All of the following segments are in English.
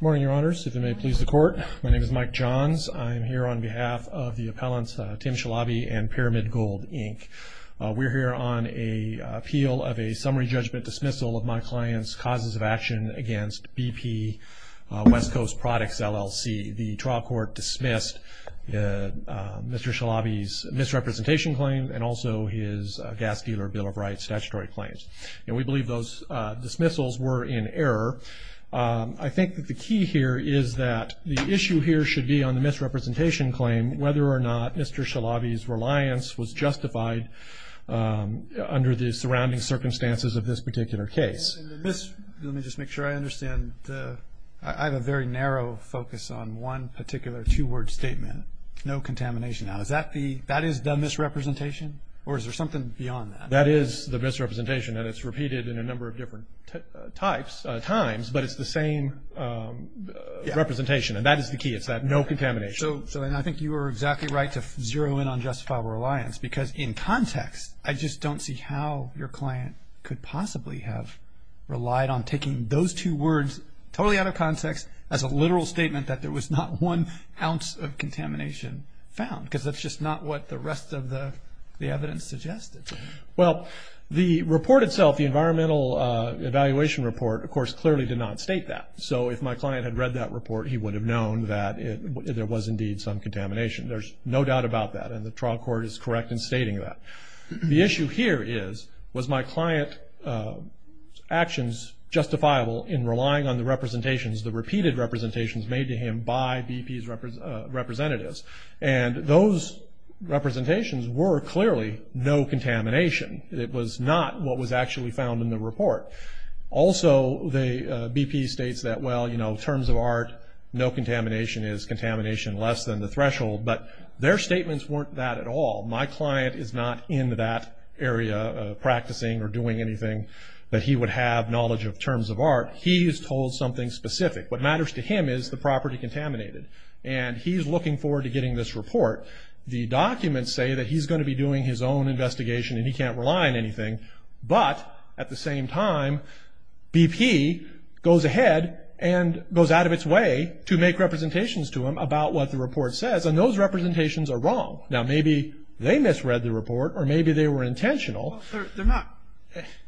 Morning, Your Honors. If you may please the court. My name is Mike Johns. I'm here on behalf of the appellants Tim Shalabi and Pyramid Gold, Inc. We're here on an appeal of a summary judgment dismissal of my client's causes of action against BP West Coast Products, LLC. The trial court dismissed Mr. Shalabi's misrepresentation claim and also his gas dealer Bill of Rights statutory claims. And we believe those dismissals were in error. I think that the key here is that the issue here should be on the misrepresentation claim whether or not Mr. Shalabi's reliance was justified under the surrounding circumstances of this particular case. Let me just make sure I understand. I have a very narrow focus on one particular two-word statement, no contamination. Now is that the misrepresentation or is there something beyond that? That is the misrepresentation and it's repeated in a number of different types, times, but it's the same representation and that is the key. It's that no contamination. So I think you were exactly right to zero in on justifiable reliance because in context I just don't see how your client could possibly have relied on taking those two words totally out of context as a literal statement that there was not one ounce of contamination found because that's just not what the rest of the evidence suggested. Well, the report itself, the environmental evaluation report, of course clearly did not state that. So if my client had read that report he would have known that there was indeed some contamination. There's no doubt about that and the trial court is correct in stating that. The issue here is was my client's actions justifiable in relying on the representations, the repeated representations made to him by BP's representatives. And those representations were clearly no contamination. It was not what was actually found in the report. Also, BP states that, well, you know, terms of art, no contamination is contamination less than the threshold, but their statements weren't that at all. My client is not in that area practicing or doing anything that he would have knowledge of terms of art. He is told something specific. What matters to him is the property contaminated. And he's looking forward to getting this report. The documents say that he's going to be doing his own investigation and he can't rely on anything, but at the same time BP goes ahead and goes out of its way to make representations to him about what the report says, and those representations are wrong. Now, maybe they misread the report or maybe they were intentional. They're not.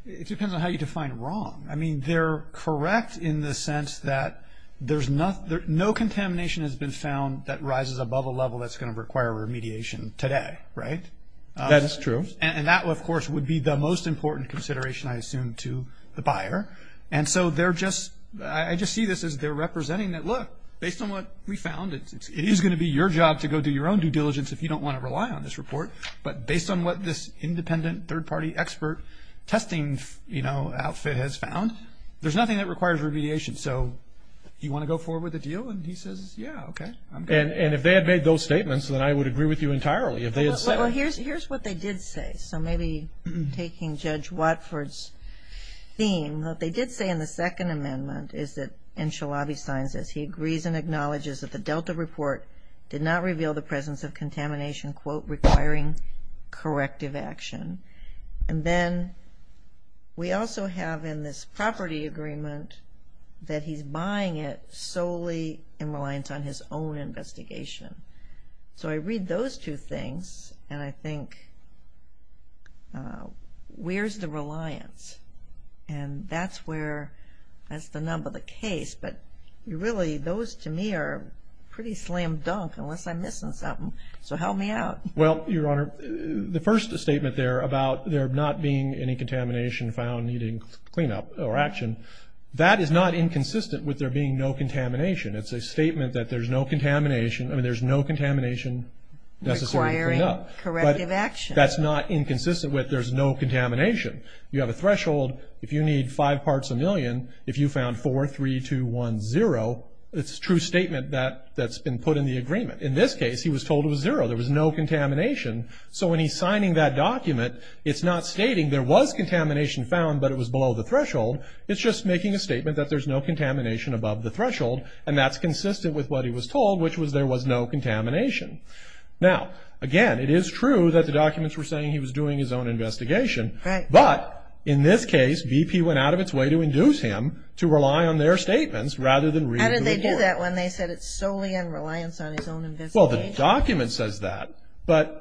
It depends on how you define wrong. I mean, they're correct in the sense that no contamination has been found that rises above a level that's going to require remediation today, right? That is true. And that, of course, would be the most important consideration, I assume, to the buyer. And so I just see this as they're representing that, look, based on what we found, it is going to be your job to go do your own due diligence if you don't want to rely on this report. But based on what this independent third-party expert testing, you know, outfit has found, there's nothing that requires remediation. So you want to go forward with the deal? And he says, yeah, okay. And if they had made those statements, then I would agree with you entirely. Well, here's what they did say. So maybe taking Judge Watford's theme, what they did say in the Second Amendment is that, and Shalabi signs this, he agrees and acknowledges that the Delta report did not reveal the presence of underlying corrective action. And then we also have in this property agreement that he's buying it solely in reliance on his own investigation. So I read those two things and I think, where's the reliance? And that's where, that's the number, the case. But really, those to me are pretty slam dunk unless I'm missing something. So help me out. Well, Your Honor, the first statement there about there not being any contamination found needing cleanup or action, that is not inconsistent with there being no contamination. It's a statement that there's no contamination. I mean, there's no contamination necessary to clean up. Requiring corrective action. But that's not inconsistent with there's no contamination. You have a threshold. If you need five parts a million, if you found four, three, two, one, zero, it's a true statement that's been put in the agreement. In this case, he was told it was zero. There was no contamination. So when he's signing that document, it's not stating there was contamination found but it was below the threshold. It's just making a statement that there's no contamination above the threshold. And that's consistent with what he was told, which was there was no contamination. Now, again, it is true that the documents were saying he was doing his own investigation. But in this case, BP went out of its way to induce him to rely on their statements rather than read the report. How did they do that when they said it's solely in reliance on his own investigation? Well, the document says that. But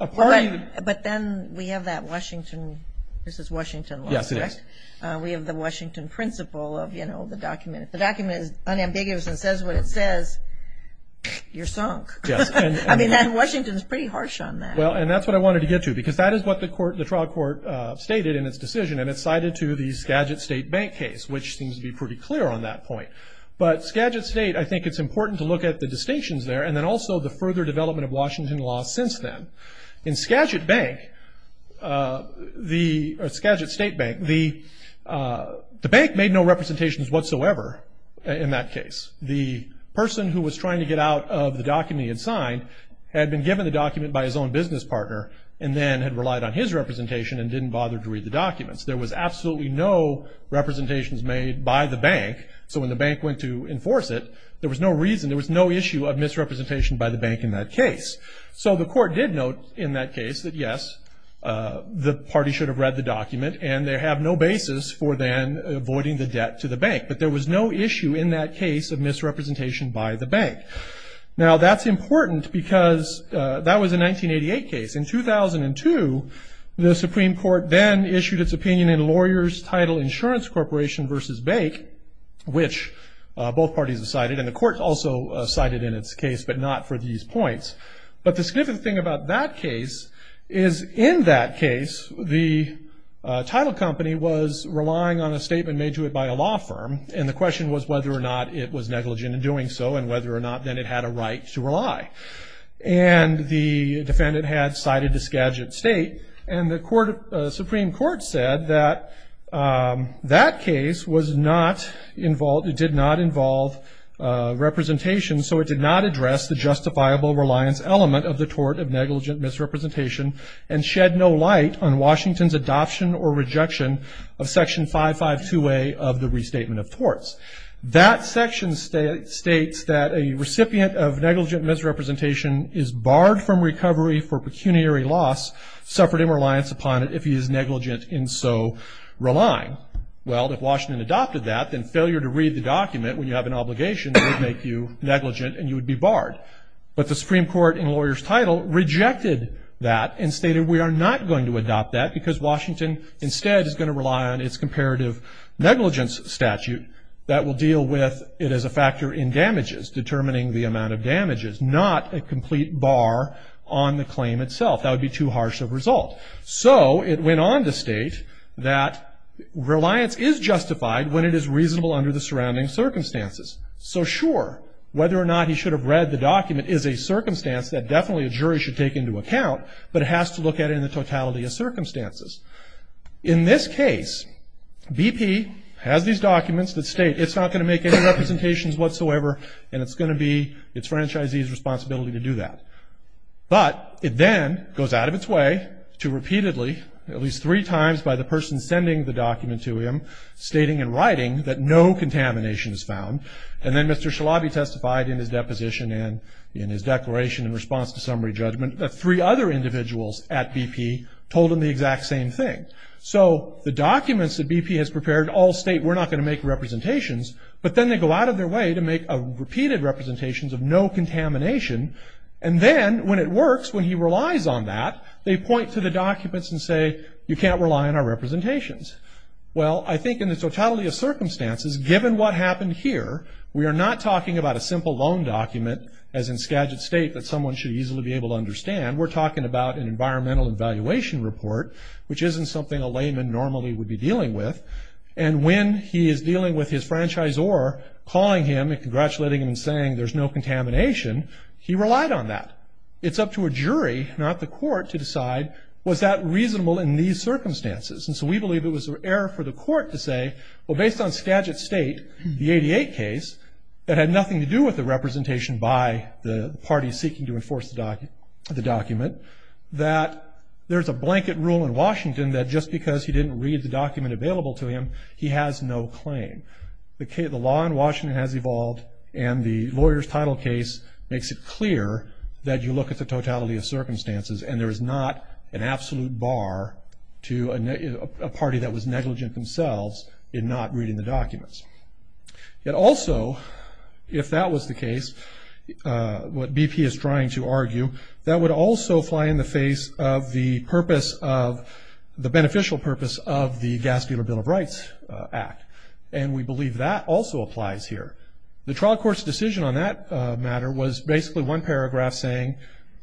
then we have that Washington, this is Washington law, correct? Yes, it is. We have the Washington principle of, you know, the document. If the document is unambiguous and says what it says, you're sunk. I mean, Washington is pretty harsh on that. Well, and that's what I wanted to get to because that is what the trial court stated in its decision. And it's cited to the Skagit State bank case, which seems to be pretty clear on that point. But Skagit State, I think it's important to look at the distinctions there and then also the further development of Washington law since then. In Skagit Bank, the Skagit State Bank, the bank made no representations whatsoever in that case. The person who was trying to get out of the document he had signed had been given the document by his own business partner and then had relied on his representation and didn't bother to read the documents. There was absolutely no representations made by the bank. So when the bank went to enforce it, there was no reason, there was no issue of misrepresentation by the bank in that case. So the court did note in that case that, yes, the party should have read the document and they have no basis for then avoiding the debt to the bank. But there was no issue in that case of misrepresentation by the bank. Now, that's important because that was a 1988 case. In 2002, the Supreme Court then issued its opinion in Lawyers Title Insurance Corporation v. Bake, which both parties have cited and the court also cited in its case but not for these points. But the significant thing about that case is in that case, the title company was relying on a statement made to it by a law firm and the question was whether or not it was negligent in doing so and the defendant had cited a scadgent state. And the Supreme Court said that that case did not involve representation, so it did not address the justifiable reliance element of the tort of negligent misrepresentation and shed no light on Washington's adoption or rejection of Section 552A of the Restatement of Torts. That section states that a recipient of negligent misrepresentation is barred from recovery for pecuniary loss, suffered imreliance upon it if he is negligent in so relying. Well, if Washington adopted that, then failure to read the document when you have an obligation would make you negligent and you would be barred. But the Supreme Court in Lawyers Title rejected that and stated we are not going to adopt that because Washington instead is going to rely on its comparative negligence statute that will deal with it as a factor in damages, determining the amount of damages, not a complete bar on the claim itself. That would be too harsh of a result. So it went on to state that reliance is justified when it is reasonable under the surrounding circumstances. So sure, whether or not he should have read the document is a circumstance that definitely a jury should take into account, but it has to look at it in the totality of circumstances. In this case, BP has these documents that state it's not going to make any representations whatsoever and it's going to be its franchisee's responsibility to do that. But it then goes out of its way to repeatedly, at least three times by the person sending the document to him, stating in writing that no contamination is found. And then Mr. Shalabi testified in his deposition and in his declaration in response to summary judgment that three other individuals at BP told him the exact same thing. So the documents that BP has prepared all state we're not going to make representations, but then they go out of their way to make repeated representations of no contamination. And then when it works, when he relies on that, they point to the documents and say, you can't rely on our representations. Well, I think in the totality of circumstances, given what happened here, we are not talking about a simple loan document, as in Skagit State, that someone should easily be able to understand. We're talking about an environmental evaluation report, which isn't something a layman normally would be dealing with. And when he is dealing with his franchisor calling him and congratulating him and saying there's no contamination, he relied on that. It's up to a jury, not the court, to decide was that reasonable in these circumstances. And so we believe it was an error for the court to say, well, based on Skagit State, the 88 case, that had nothing to do with the representation by the party seeking to enforce the document, that there's a blanket rule in Washington that just because he didn't read the document available to him, he has no claim. The law in Washington has evolved, and the lawyer's title case makes it clear that you look at the totality of circumstances, and there is not an absolute bar to a party that was negligent themselves in not reading the documents. Yet also, if that was the case, what BP is trying to argue, that would also fly in the face of the purpose of, the beneficial purpose of the Gaspular Bill of Rights Act. And we believe that also applies here. The trial court's decision on that matter was basically one paragraph saying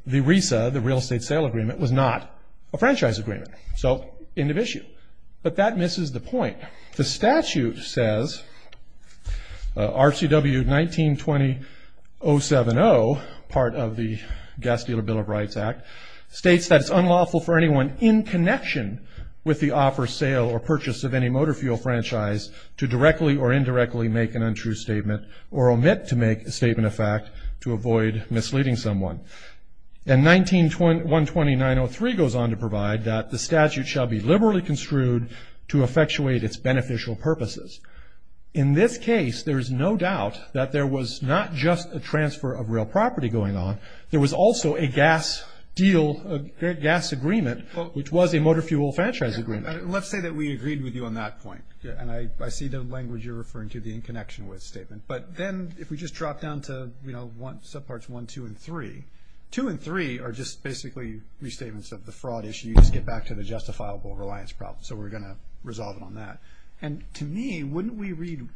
the RESA, the real estate sale agreement, was not a franchise agreement. So, end of issue. But that misses the point. The statute says, RCW 1920-070, part of the Gaspular Bill of Rights Act, states that it's unlawful for anyone in connection with the offer, sale, or purchase of any motor fuel franchise to directly or indirectly make an untrue statement or omit to make a statement of fact to avoid misleading someone. And 19129-03 goes on to provide that the statute shall be liberally construed to effectuate its beneficial purposes. In this case, there's no doubt that there was not just a transfer of real property going on. There was also a gas deal, a gas agreement, which was a motor fuel franchise agreement. Let's say that we agreed with you on that point. And I see the language you're referring to, the in connection with statement. But then if we just drop down to, you know, subparts 1, 2, and 3, 2 and 3 are just basically restatements of the fraud issue. You just get back to the justifiable reliance problem. So we're going to resolve it on that. And to me, wouldn't we read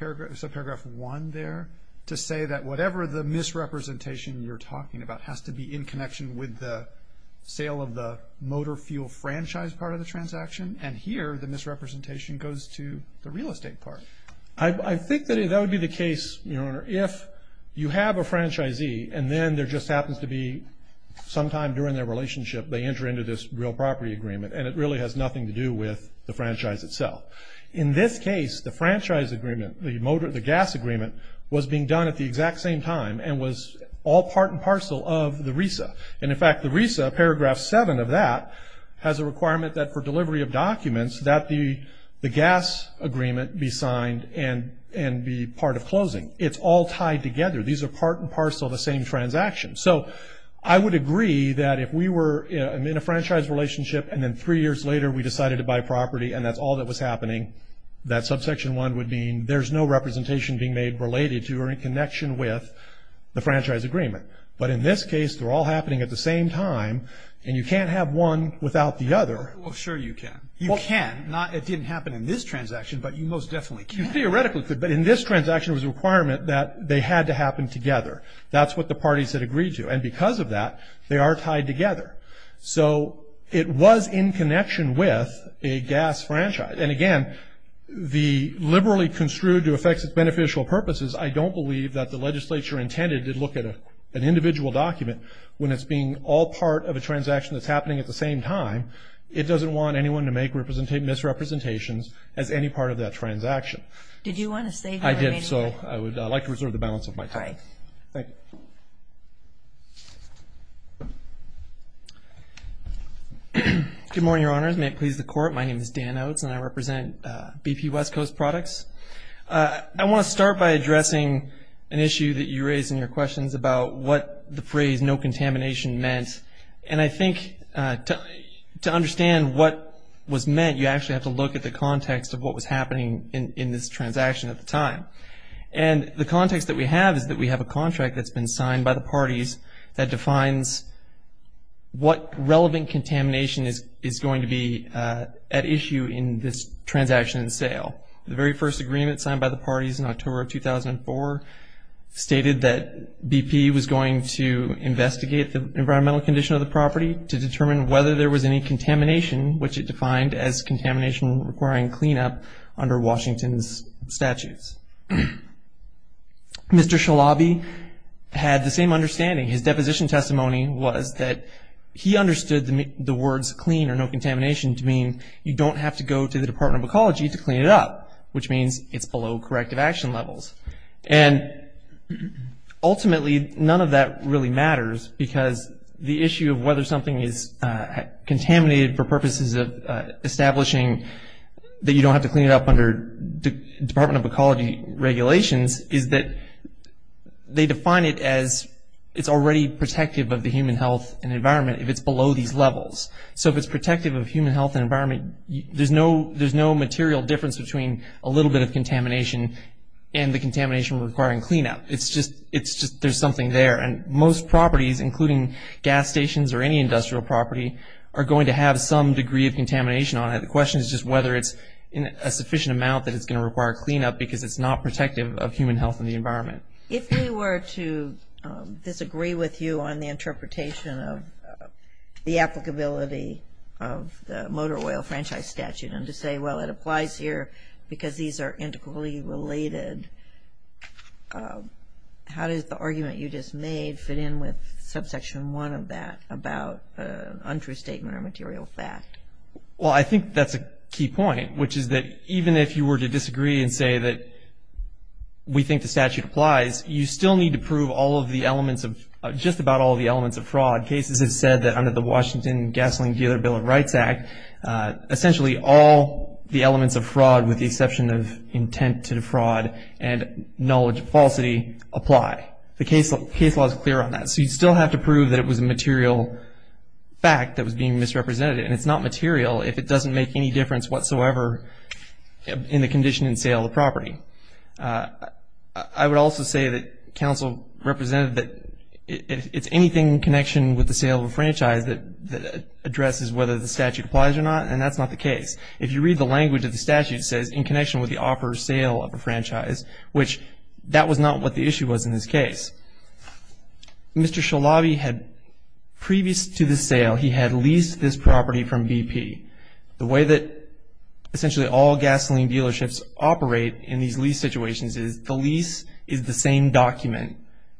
subparagraph 1 there to say that whatever the misrepresentation you're talking about has to be in connection with the sale of the motor fuel franchise part of the transaction? And here, the misrepresentation goes to the real estate part. I think that that would be the case, Your Honor, if you have a franchisee and then there just happens to be sometime during their relationship they enter into this real property agreement. And it really has nothing to do with the franchise itself. In this case, the franchise agreement, the gas agreement, was being done at the exact same time and was all part and parcel of the RESA. And, in fact, the RESA, paragraph 7 of that, has a requirement that for delivery of documents that the gas agreement be signed and be part of closing. It's all tied together. These are part and parcel of the same transaction. So I would agree that if we were in a franchise relationship and then three years later we decided to buy property and that's all that was happening, that subsection 1 would mean there's no representation being made related to or in connection with the franchise agreement. But in this case, they're all happening at the same time, and you can't have one without the other. Well, sure you can. You can. It didn't happen in this transaction, but you most definitely can. You theoretically could. But in this transaction, it was a requirement that they had to happen together. That's what the parties had agreed to. And because of that, they are tied together. So it was in connection with a gas franchise. And, again, the liberally construed to affect its beneficial purposes, I don't believe that the legislature intended to look at an individual document when it's being all part of a transaction that's happening at the same time. It doesn't want anyone to make misrepresentations as any part of that transaction. Did you want to say anything? I did, so I would like to reserve the balance of my time. Thank you. Good morning, Your Honors. May it please the Court, my name is Dan Oates, and I represent BP West Coast Products. I want to start by addressing an issue that you raised in your questions about what the phrase no contamination meant. And I think to understand what was meant, you actually have to look at the context of what was happening in this transaction at the time. And the context that we have is that we have a contract that's been signed by the parties that defines what relevant contamination is going to be at issue in this transaction sale. The very first agreement signed by the parties in October of 2004 stated that BP was going to investigate the environmental condition of the property to determine whether there was any contamination, which it defined as contamination requiring cleanup under Washington's statutes. Mr. Shalabi had the same understanding. His deposition testimony was that he understood the words clean or no contamination to mean you don't have to go to the Department of Ecology to clean it up, which means it's below corrective action levels. And ultimately, none of that really matters because the issue of whether something is contaminated for purposes of establishing that you don't have to clean it up under Department of Ecology regulations is that they define it as it's already protective of the human health and environment if it's below these levels. So if it's protective of human health and environment, there's no material difference between a little bit of contamination and the contamination requiring cleanup. It's just there's something there. And most properties, including gas stations or any industrial property, are going to have some degree of contamination on it. The question is just whether it's a sufficient amount that it's going to require cleanup because it's not protective of human health and the environment. If we were to disagree with you on the interpretation of the applicability of the motor oil franchise statute and to say, well, it applies here because these are integrally related, how does the argument you just made fit in with subsection one of that about untrue statement or material fact? Well, I think that's a key point, which is that even if you were to disagree and say that we think the statute applies, you still need to prove all of the elements of, just about all of the elements of fraud. Cases have said that under the Washington Gasoline Dealer Bill of Rights Act, essentially all the elements of fraud with the exception of intent to defraud and knowledge of falsity apply. The case law is clear on that. So you still have to prove that it was a material fact that was being misrepresented. And it's not material if it doesn't make any difference whatsoever in the condition and sale of the property. I would also say that counsel represented that it's anything in connection with the sale of a franchise that addresses whether the statute applies or not, and that's not the case. If you read the language of the statute, it says in connection with the offer of sale of a franchise, which that was not what the issue was in this case. Mr. Shalabi had, previous to the sale, he had leased this property from BP. The way that essentially all gasoline dealerships operate in these lease situations is the lease is the same document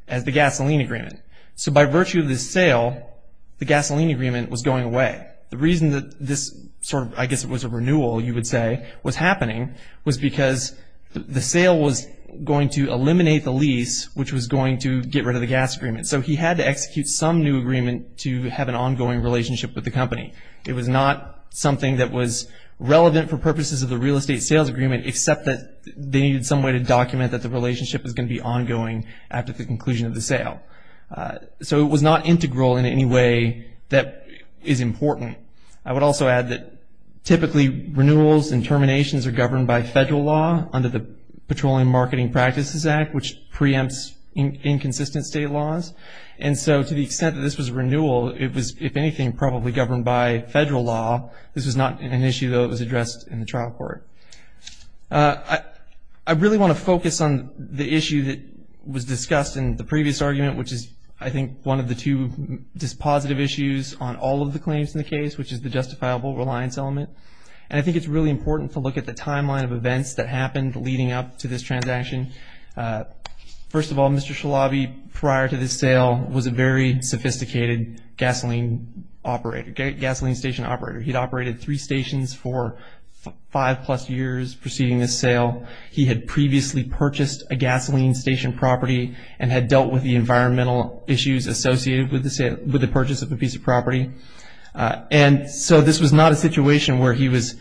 as the gasoline agreement. So by virtue of this sale, the gasoline agreement was going away. The reason that this sort of, I guess it was a renewal, you would say, was happening was because the sale was going to eliminate the lease, which was going to get rid of the gas agreement. So he had to execute some new agreement to have an ongoing relationship with the company. It was not something that was relevant for purposes of the real estate sales agreement, except that they needed some way to document that the relationship was going to be ongoing after the conclusion of the sale. So it was not integral in any way that is important. I would also add that typically renewals and terminations are governed by federal law under the Petroleum Marketing Practices Act, which preempts inconsistent state laws. And so to the extent that this was a renewal, it was, if anything, probably governed by federal law. This was not an issue, though, that was addressed in the trial court. I really want to focus on the issue that was discussed in the previous argument, which is I think one of the two dispositive issues on all of the claims in the case, which is the justifiable reliance element. And I think it's really important to look at the timeline of events that happened leading up to this transaction. First of all, Mr. Shalabi, prior to this sale, was a very sophisticated gasoline operator, he had operated three stations for five-plus years preceding this sale. He had previously purchased a gasoline station property and had dealt with the environmental issues associated with the purchase of the piece of property. And so this was not a situation where he was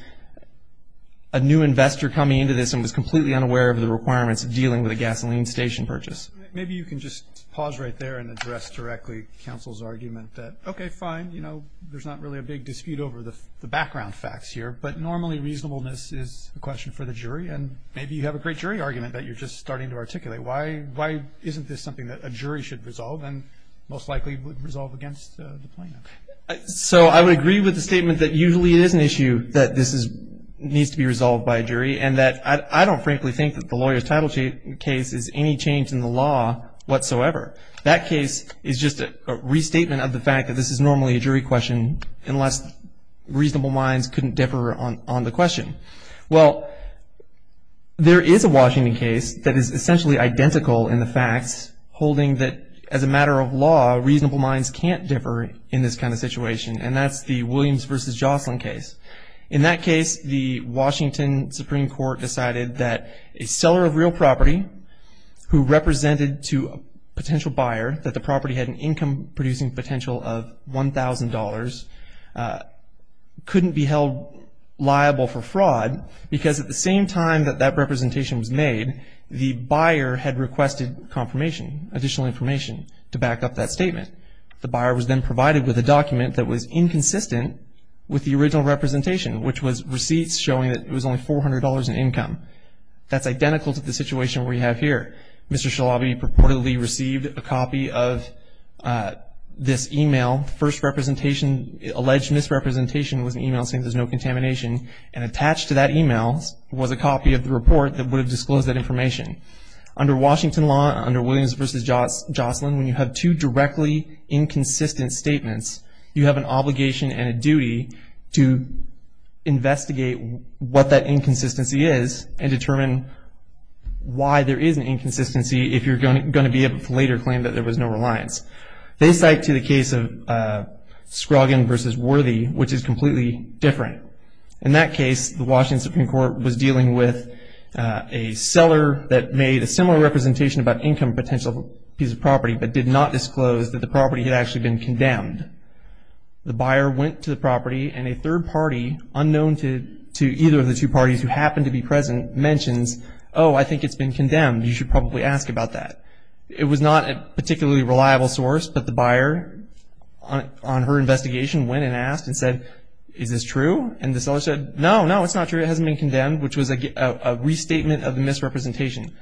a new investor coming into this and was completely unaware of the requirements of dealing with a gasoline station purchase. Maybe you can just pause right there and address directly counsel's argument that, okay, fine, you know, there's not really a big dispute over the background facts here, but normally reasonableness is a question for the jury and maybe you have a great jury argument that you're just starting to articulate. Why isn't this something that a jury should resolve and most likely would resolve against the plaintiff? So I would agree with the statement that usually it is an issue that this needs to be resolved by a jury and that I don't frankly think that the lawyer's title case is any change in the law whatsoever. That case is just a restatement of the fact that this is normally a jury question unless reasonable minds couldn't differ on the question. Well, there is a Washington case that is essentially identical in the facts, holding that as a matter of law, reasonable minds can't differ in this kind of situation, and that's the Williams v. Jocelyn case. In that case, the Washington Supreme Court decided that a seller of real property who represented to a potential buyer that the property had an income producing potential of $1,000 couldn't be held liable for fraud because at the same time that that representation was made, the buyer had requested confirmation, additional information to back up that statement. The buyer was then provided with a document that was inconsistent with the original representation, which was receipts showing that it was only $400 in income. That's identical to the situation we have here. Mr. Shalabi reportedly received a copy of this e-mail. First representation, alleged misrepresentation was an e-mail saying there's no contamination, and attached to that e-mail was a copy of the report that would have disclosed that information. Under Washington law, under Williams v. Jocelyn, when you have two directly inconsistent statements, you have an obligation and a duty to investigate what that inconsistency is and determine why there is an inconsistency if you're going to be able to later claim that there was no reliance. They cite to the case of Scroggins v. Worthy, which is completely different. In that case, the Washington Supreme Court was dealing with a seller that made a similar representation about income potential piece of property but did not disclose that the property had actually been condemned. The buyer went to the property, and a third party, unknown to either of the two parties who happened to be present, mentions, oh, I think it's been condemned. You should probably ask about that. It was not a particularly reliable source, but the buyer, on her investigation, went and asked and said, is this true? And the seller said, no, no, it's not true. It hasn't been condemned, which was a restatement of the misrepresentation.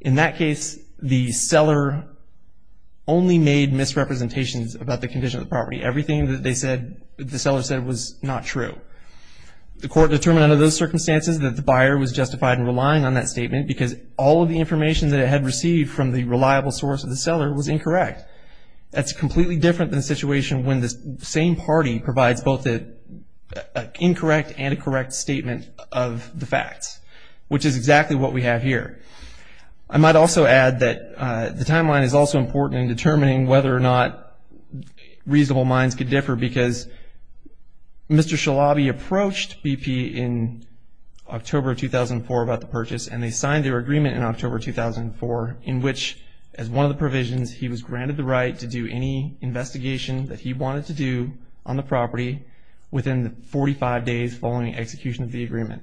In that case, the seller only made misrepresentations about the condition of the property. Everything that the seller said was not true. The court determined under those circumstances that the buyer was justified in relying on that statement because all of the information that it had received from the reliable source of the seller was incorrect. That's completely different than the situation when the same party provides both an incorrect and a correct statement of the facts, which is exactly what we have here. I might also add that the timeline is also important in determining whether or not reasonable minds could differ because Mr. Shalabi approached BP in October 2004 about the purchase, and they signed their agreement in October 2004 in which, as one of the provisions, he was granted the right to do any investigation that he wanted to do on the property within the 45 days following execution of the agreement.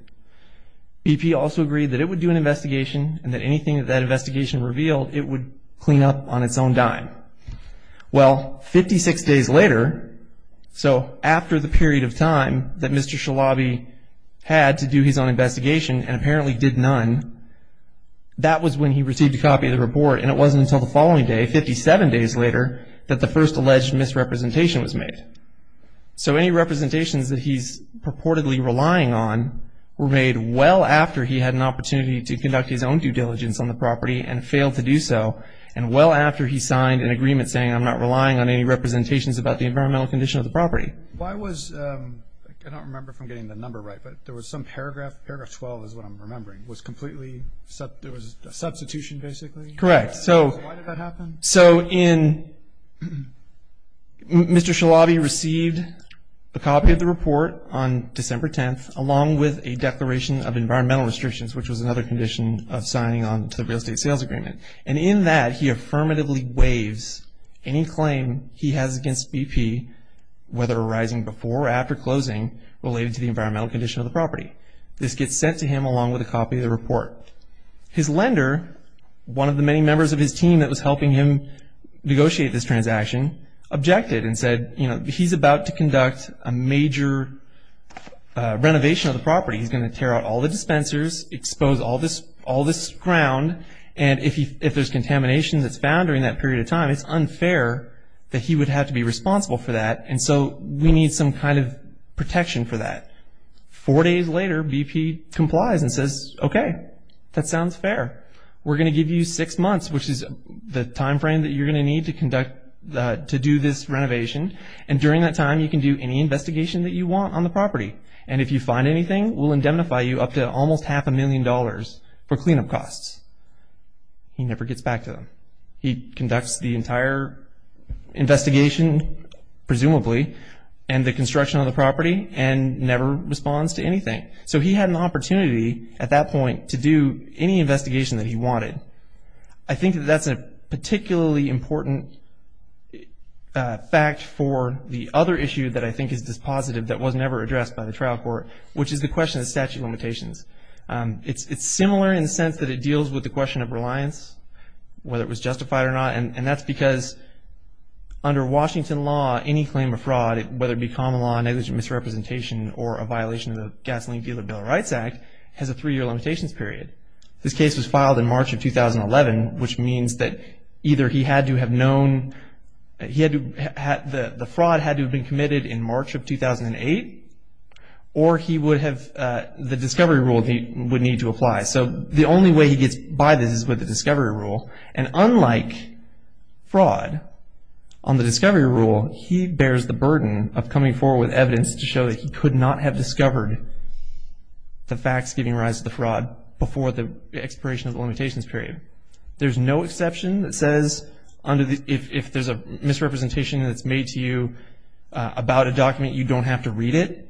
BP also agreed that it would do an investigation and that anything that that investigation revealed, it would clean up on its own dime. Well, 56 days later, so after the period of time that Mr. Shalabi had to do his own investigation and apparently did none, that was when he received a copy of the report, and it wasn't until the following day, 57 days later, that the first alleged misrepresentation was made. So any representations that he's purportedly relying on were made well after he had an opportunity to conduct his own due diligence on the property and failed to do so, and well after he signed an agreement saying, I'm not relying on any representations about the environmental condition of the property. Why was, I don't remember if I'm getting the number right, but there was some paragraph, paragraph 12 is what I'm remembering, was completely, there was a substitution basically? Correct. Why did that happen? So in, Mr. Shalabi received a copy of the report on December 10th, along with a declaration of environmental restrictions, which was another condition of signing on to the real estate sales agreement. And in that, he affirmatively waives any claim he has against BP, whether arising before or after closing related to the environmental condition of the property. This gets sent to him along with a copy of the report. His lender, one of the many members of his team that was helping him negotiate this transaction, objected and said, you know, he's about to conduct a major renovation of the property. He's going to tear out all the dispensers, expose all this ground, and if there's contamination that's found during that period of time, it's unfair that he would have to be responsible for that, and so we need some kind of protection for that. Four days later, BP complies and says, okay, that sounds fair. We're going to give you six months, which is the time frame that you're going to need to conduct, to do this renovation, and during that time you can do any investigation that you want on the property. And if you find anything, we'll indemnify you up to almost half a million dollars for cleanup costs. He never gets back to them. He conducts the entire investigation, presumably, and the construction of the property, and never responds to anything. So he had an opportunity at that point to do any investigation that he wanted. I think that that's a particularly important fact for the other issue that I think is dispositive that was never addressed by the trial court, which is the question of statute limitations. It's similar in the sense that it deals with the question of reliance, whether it was justified or not, and that's because under Washington law, any claim of fraud, whether it be common law, negligent misrepresentation, or a violation of the Gasoline Dealer Bill of Rights Act has a three-year limitations period. This case was filed in March of 2011, which means that either he had to have known, the fraud had to have been committed in March of 2008, or he would have, the discovery rule he would need to apply. So the only way he gets by this is with the discovery rule, and unlike fraud, on the discovery rule, he bears the burden of coming forward with evidence to show that he could not have discovered the facts giving rise to the fraud before the expiration of the limitations period. There's no exception that says if there's a misrepresentation that's made to you about a document, you don't have to read it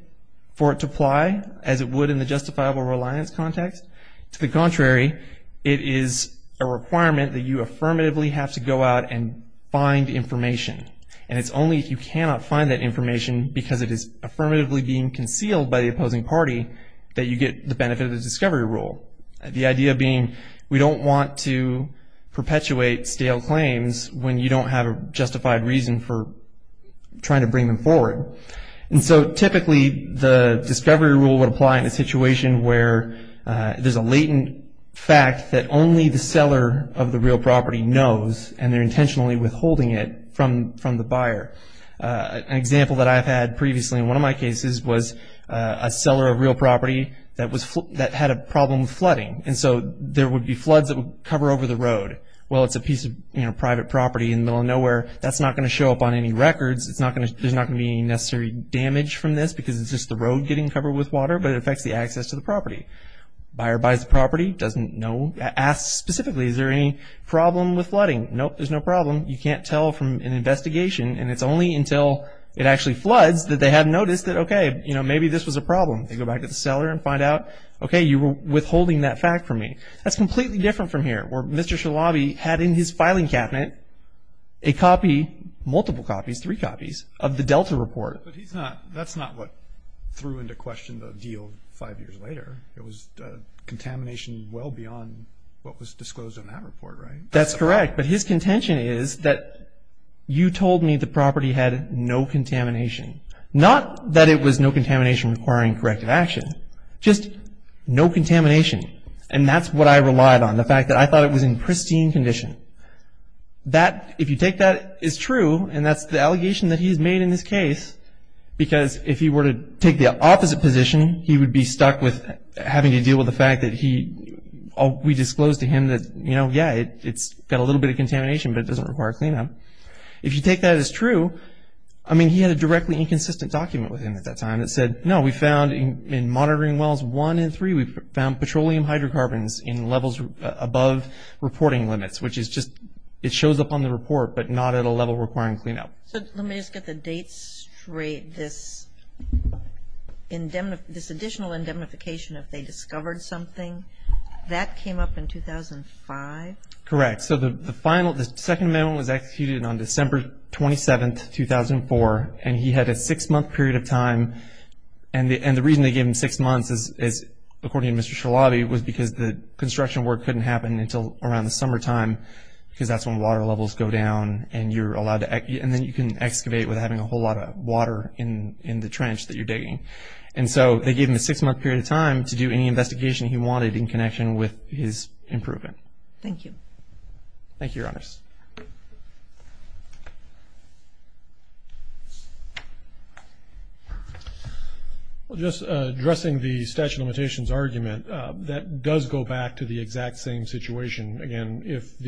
for it to apply as it would in the justifiable reliance context. To the contrary, it is a requirement that you affirmatively have to go out and find information, and it's only if you cannot find that information because it is affirmatively being concealed by the opposing party that you get the benefit of the discovery rule. The idea being we don't want to perpetuate stale claims when you don't have a justified reason for trying to bring them forward. So typically the discovery rule would apply in a situation where there's a latent fact that only the seller of the real property knows, and they're intentionally withholding it from the buyer. An example that I've had previously in one of my cases was a seller of real property that had a problem with flooding, and so there would be floods that would cover over the road. Well, it's a piece of private property in the middle of nowhere. That's not going to show up on any records. There's not going to be any necessary damage from this because it's just the road getting covered with water, but it affects the access to the property. Buyer buys the property, doesn't know, asks specifically, is there any problem with flooding? Nope, there's no problem. You can't tell from an investigation, and it's only until it actually floods that they have noticed that, okay, maybe this was a problem. They go back to the seller and find out, okay, you were withholding that fact from me. That's completely different from here where Mr. Shalabi had in his filing cabinet a copy, multiple copies, three copies of the Delta report. But that's not what threw into question the deal five years later. It was contamination well beyond what was disclosed in that report, right? That's correct, but his contention is that you told me the property had no contamination. Not that it was no contamination requiring corrective action, just no contamination, and that's what I relied on, the fact that I thought it was in pristine condition. If you take that as true, and that's the allegation that he's made in this case, because if he were to take the opposite position, he would be stuck with having to deal with the fact that we disclosed to him that, you know, yeah, it's got a little bit of contamination, but it doesn't require cleanup. If you take that as true, I mean, he had a directly inconsistent document with him at that time that said, no, we found in monitoring wells one and three, we found petroleum hydrocarbons in levels above reporting limits, which is just it shows up on the report, but not at a level requiring cleanup. So let me just get the dates straight. This additional indemnification, if they discovered something, that came up in 2005? Correct. So the second amendment was executed on December 27, 2004, and he had a six-month period of time. And the reason they gave him six months is, according to Mr. Shalabi, was because the construction work couldn't happen until around the summertime, because that's when water levels go down, and then you can excavate without having a whole lot of water in the trench that you're digging. And so they gave him a six-month period of time to do any investigation he wanted in connection with his improvement. Thank you. Thank you, Your Honors. Just addressing the statute of limitations argument, that does go back to the exact same situation. Again, if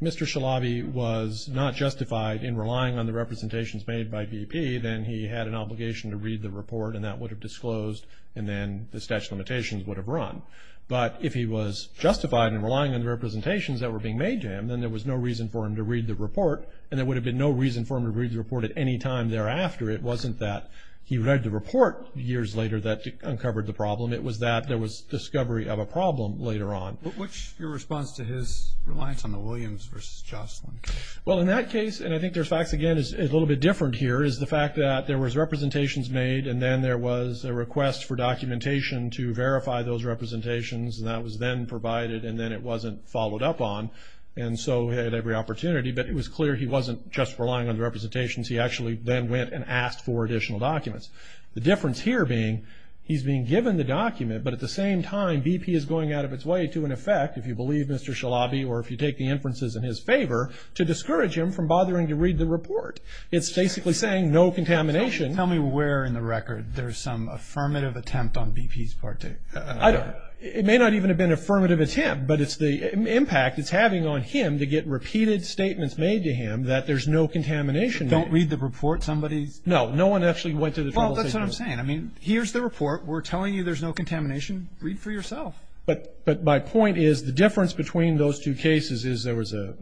Mr. Shalabi was not justified in relying on the representations made by BP, then he had an obligation to read the report, and that would have disclosed, and then the statute of limitations would have run. But if he was justified in relying on the representations that were being made to him, then there was no reason for him to read the report, and there would have been no reason for him to read the report at any time thereafter. It wasn't that he read the report years later that uncovered the problem. It was that there was discovery of a problem later on. What's your response to his reliance on the Williams versus Jocelyn case? Well, in that case, and I think their facts, again, is a little bit different here, is the fact that there was representations made, and then there was a request for documentation to verify those representations, and that was then provided, and then it wasn't followed up on. And so he had every opportunity, but it was clear he wasn't just relying on the representations. He actually then went and asked for additional documents. The difference here being he's being given the document, but at the same time BP is going out of its way to an effect, if you believe Mr. Shalabi or if you take the inferences in his favor, to discourage him from bothering to read the report. It's basically saying no contamination. Tell me where in the record there's some affirmative attempt on BP's part. I don't. It may not even have been an affirmative attempt, but it's the impact it's having on him to get repeated statements made to him that there's no contamination. Don't read the report? No one actually went to the trouble of taking it. Well, that's what I'm saying. I mean, here's the report. We're telling you there's no contamination. Read for yourself. But my point is the difference between those two cases is there was a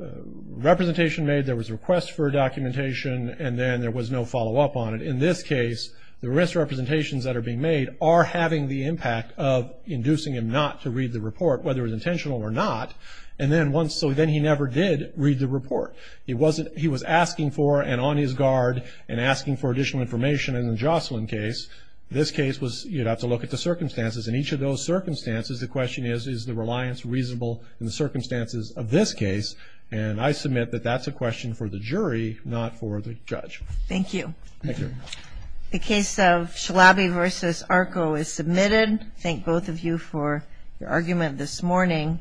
representation made, there was a request for documentation, and then there was no follow-up on it. In this case, the risk representations that are being made are having the impact of inducing him not to read the report, whether it was intentional or not. And then once, so then he never did read the report. He wasn't, he was asking for and on his guard and asking for additional information in the Jocelyn case. This case was, you'd have to look at the circumstances. In each of those circumstances, the question is, is the reliance reasonable in the circumstances of this case? And I submit that that's a question for the jury, not for the judge. Thank you. Thank you. The case of Chalabi v. Arco is submitted. Thank both of you for your argument this morning.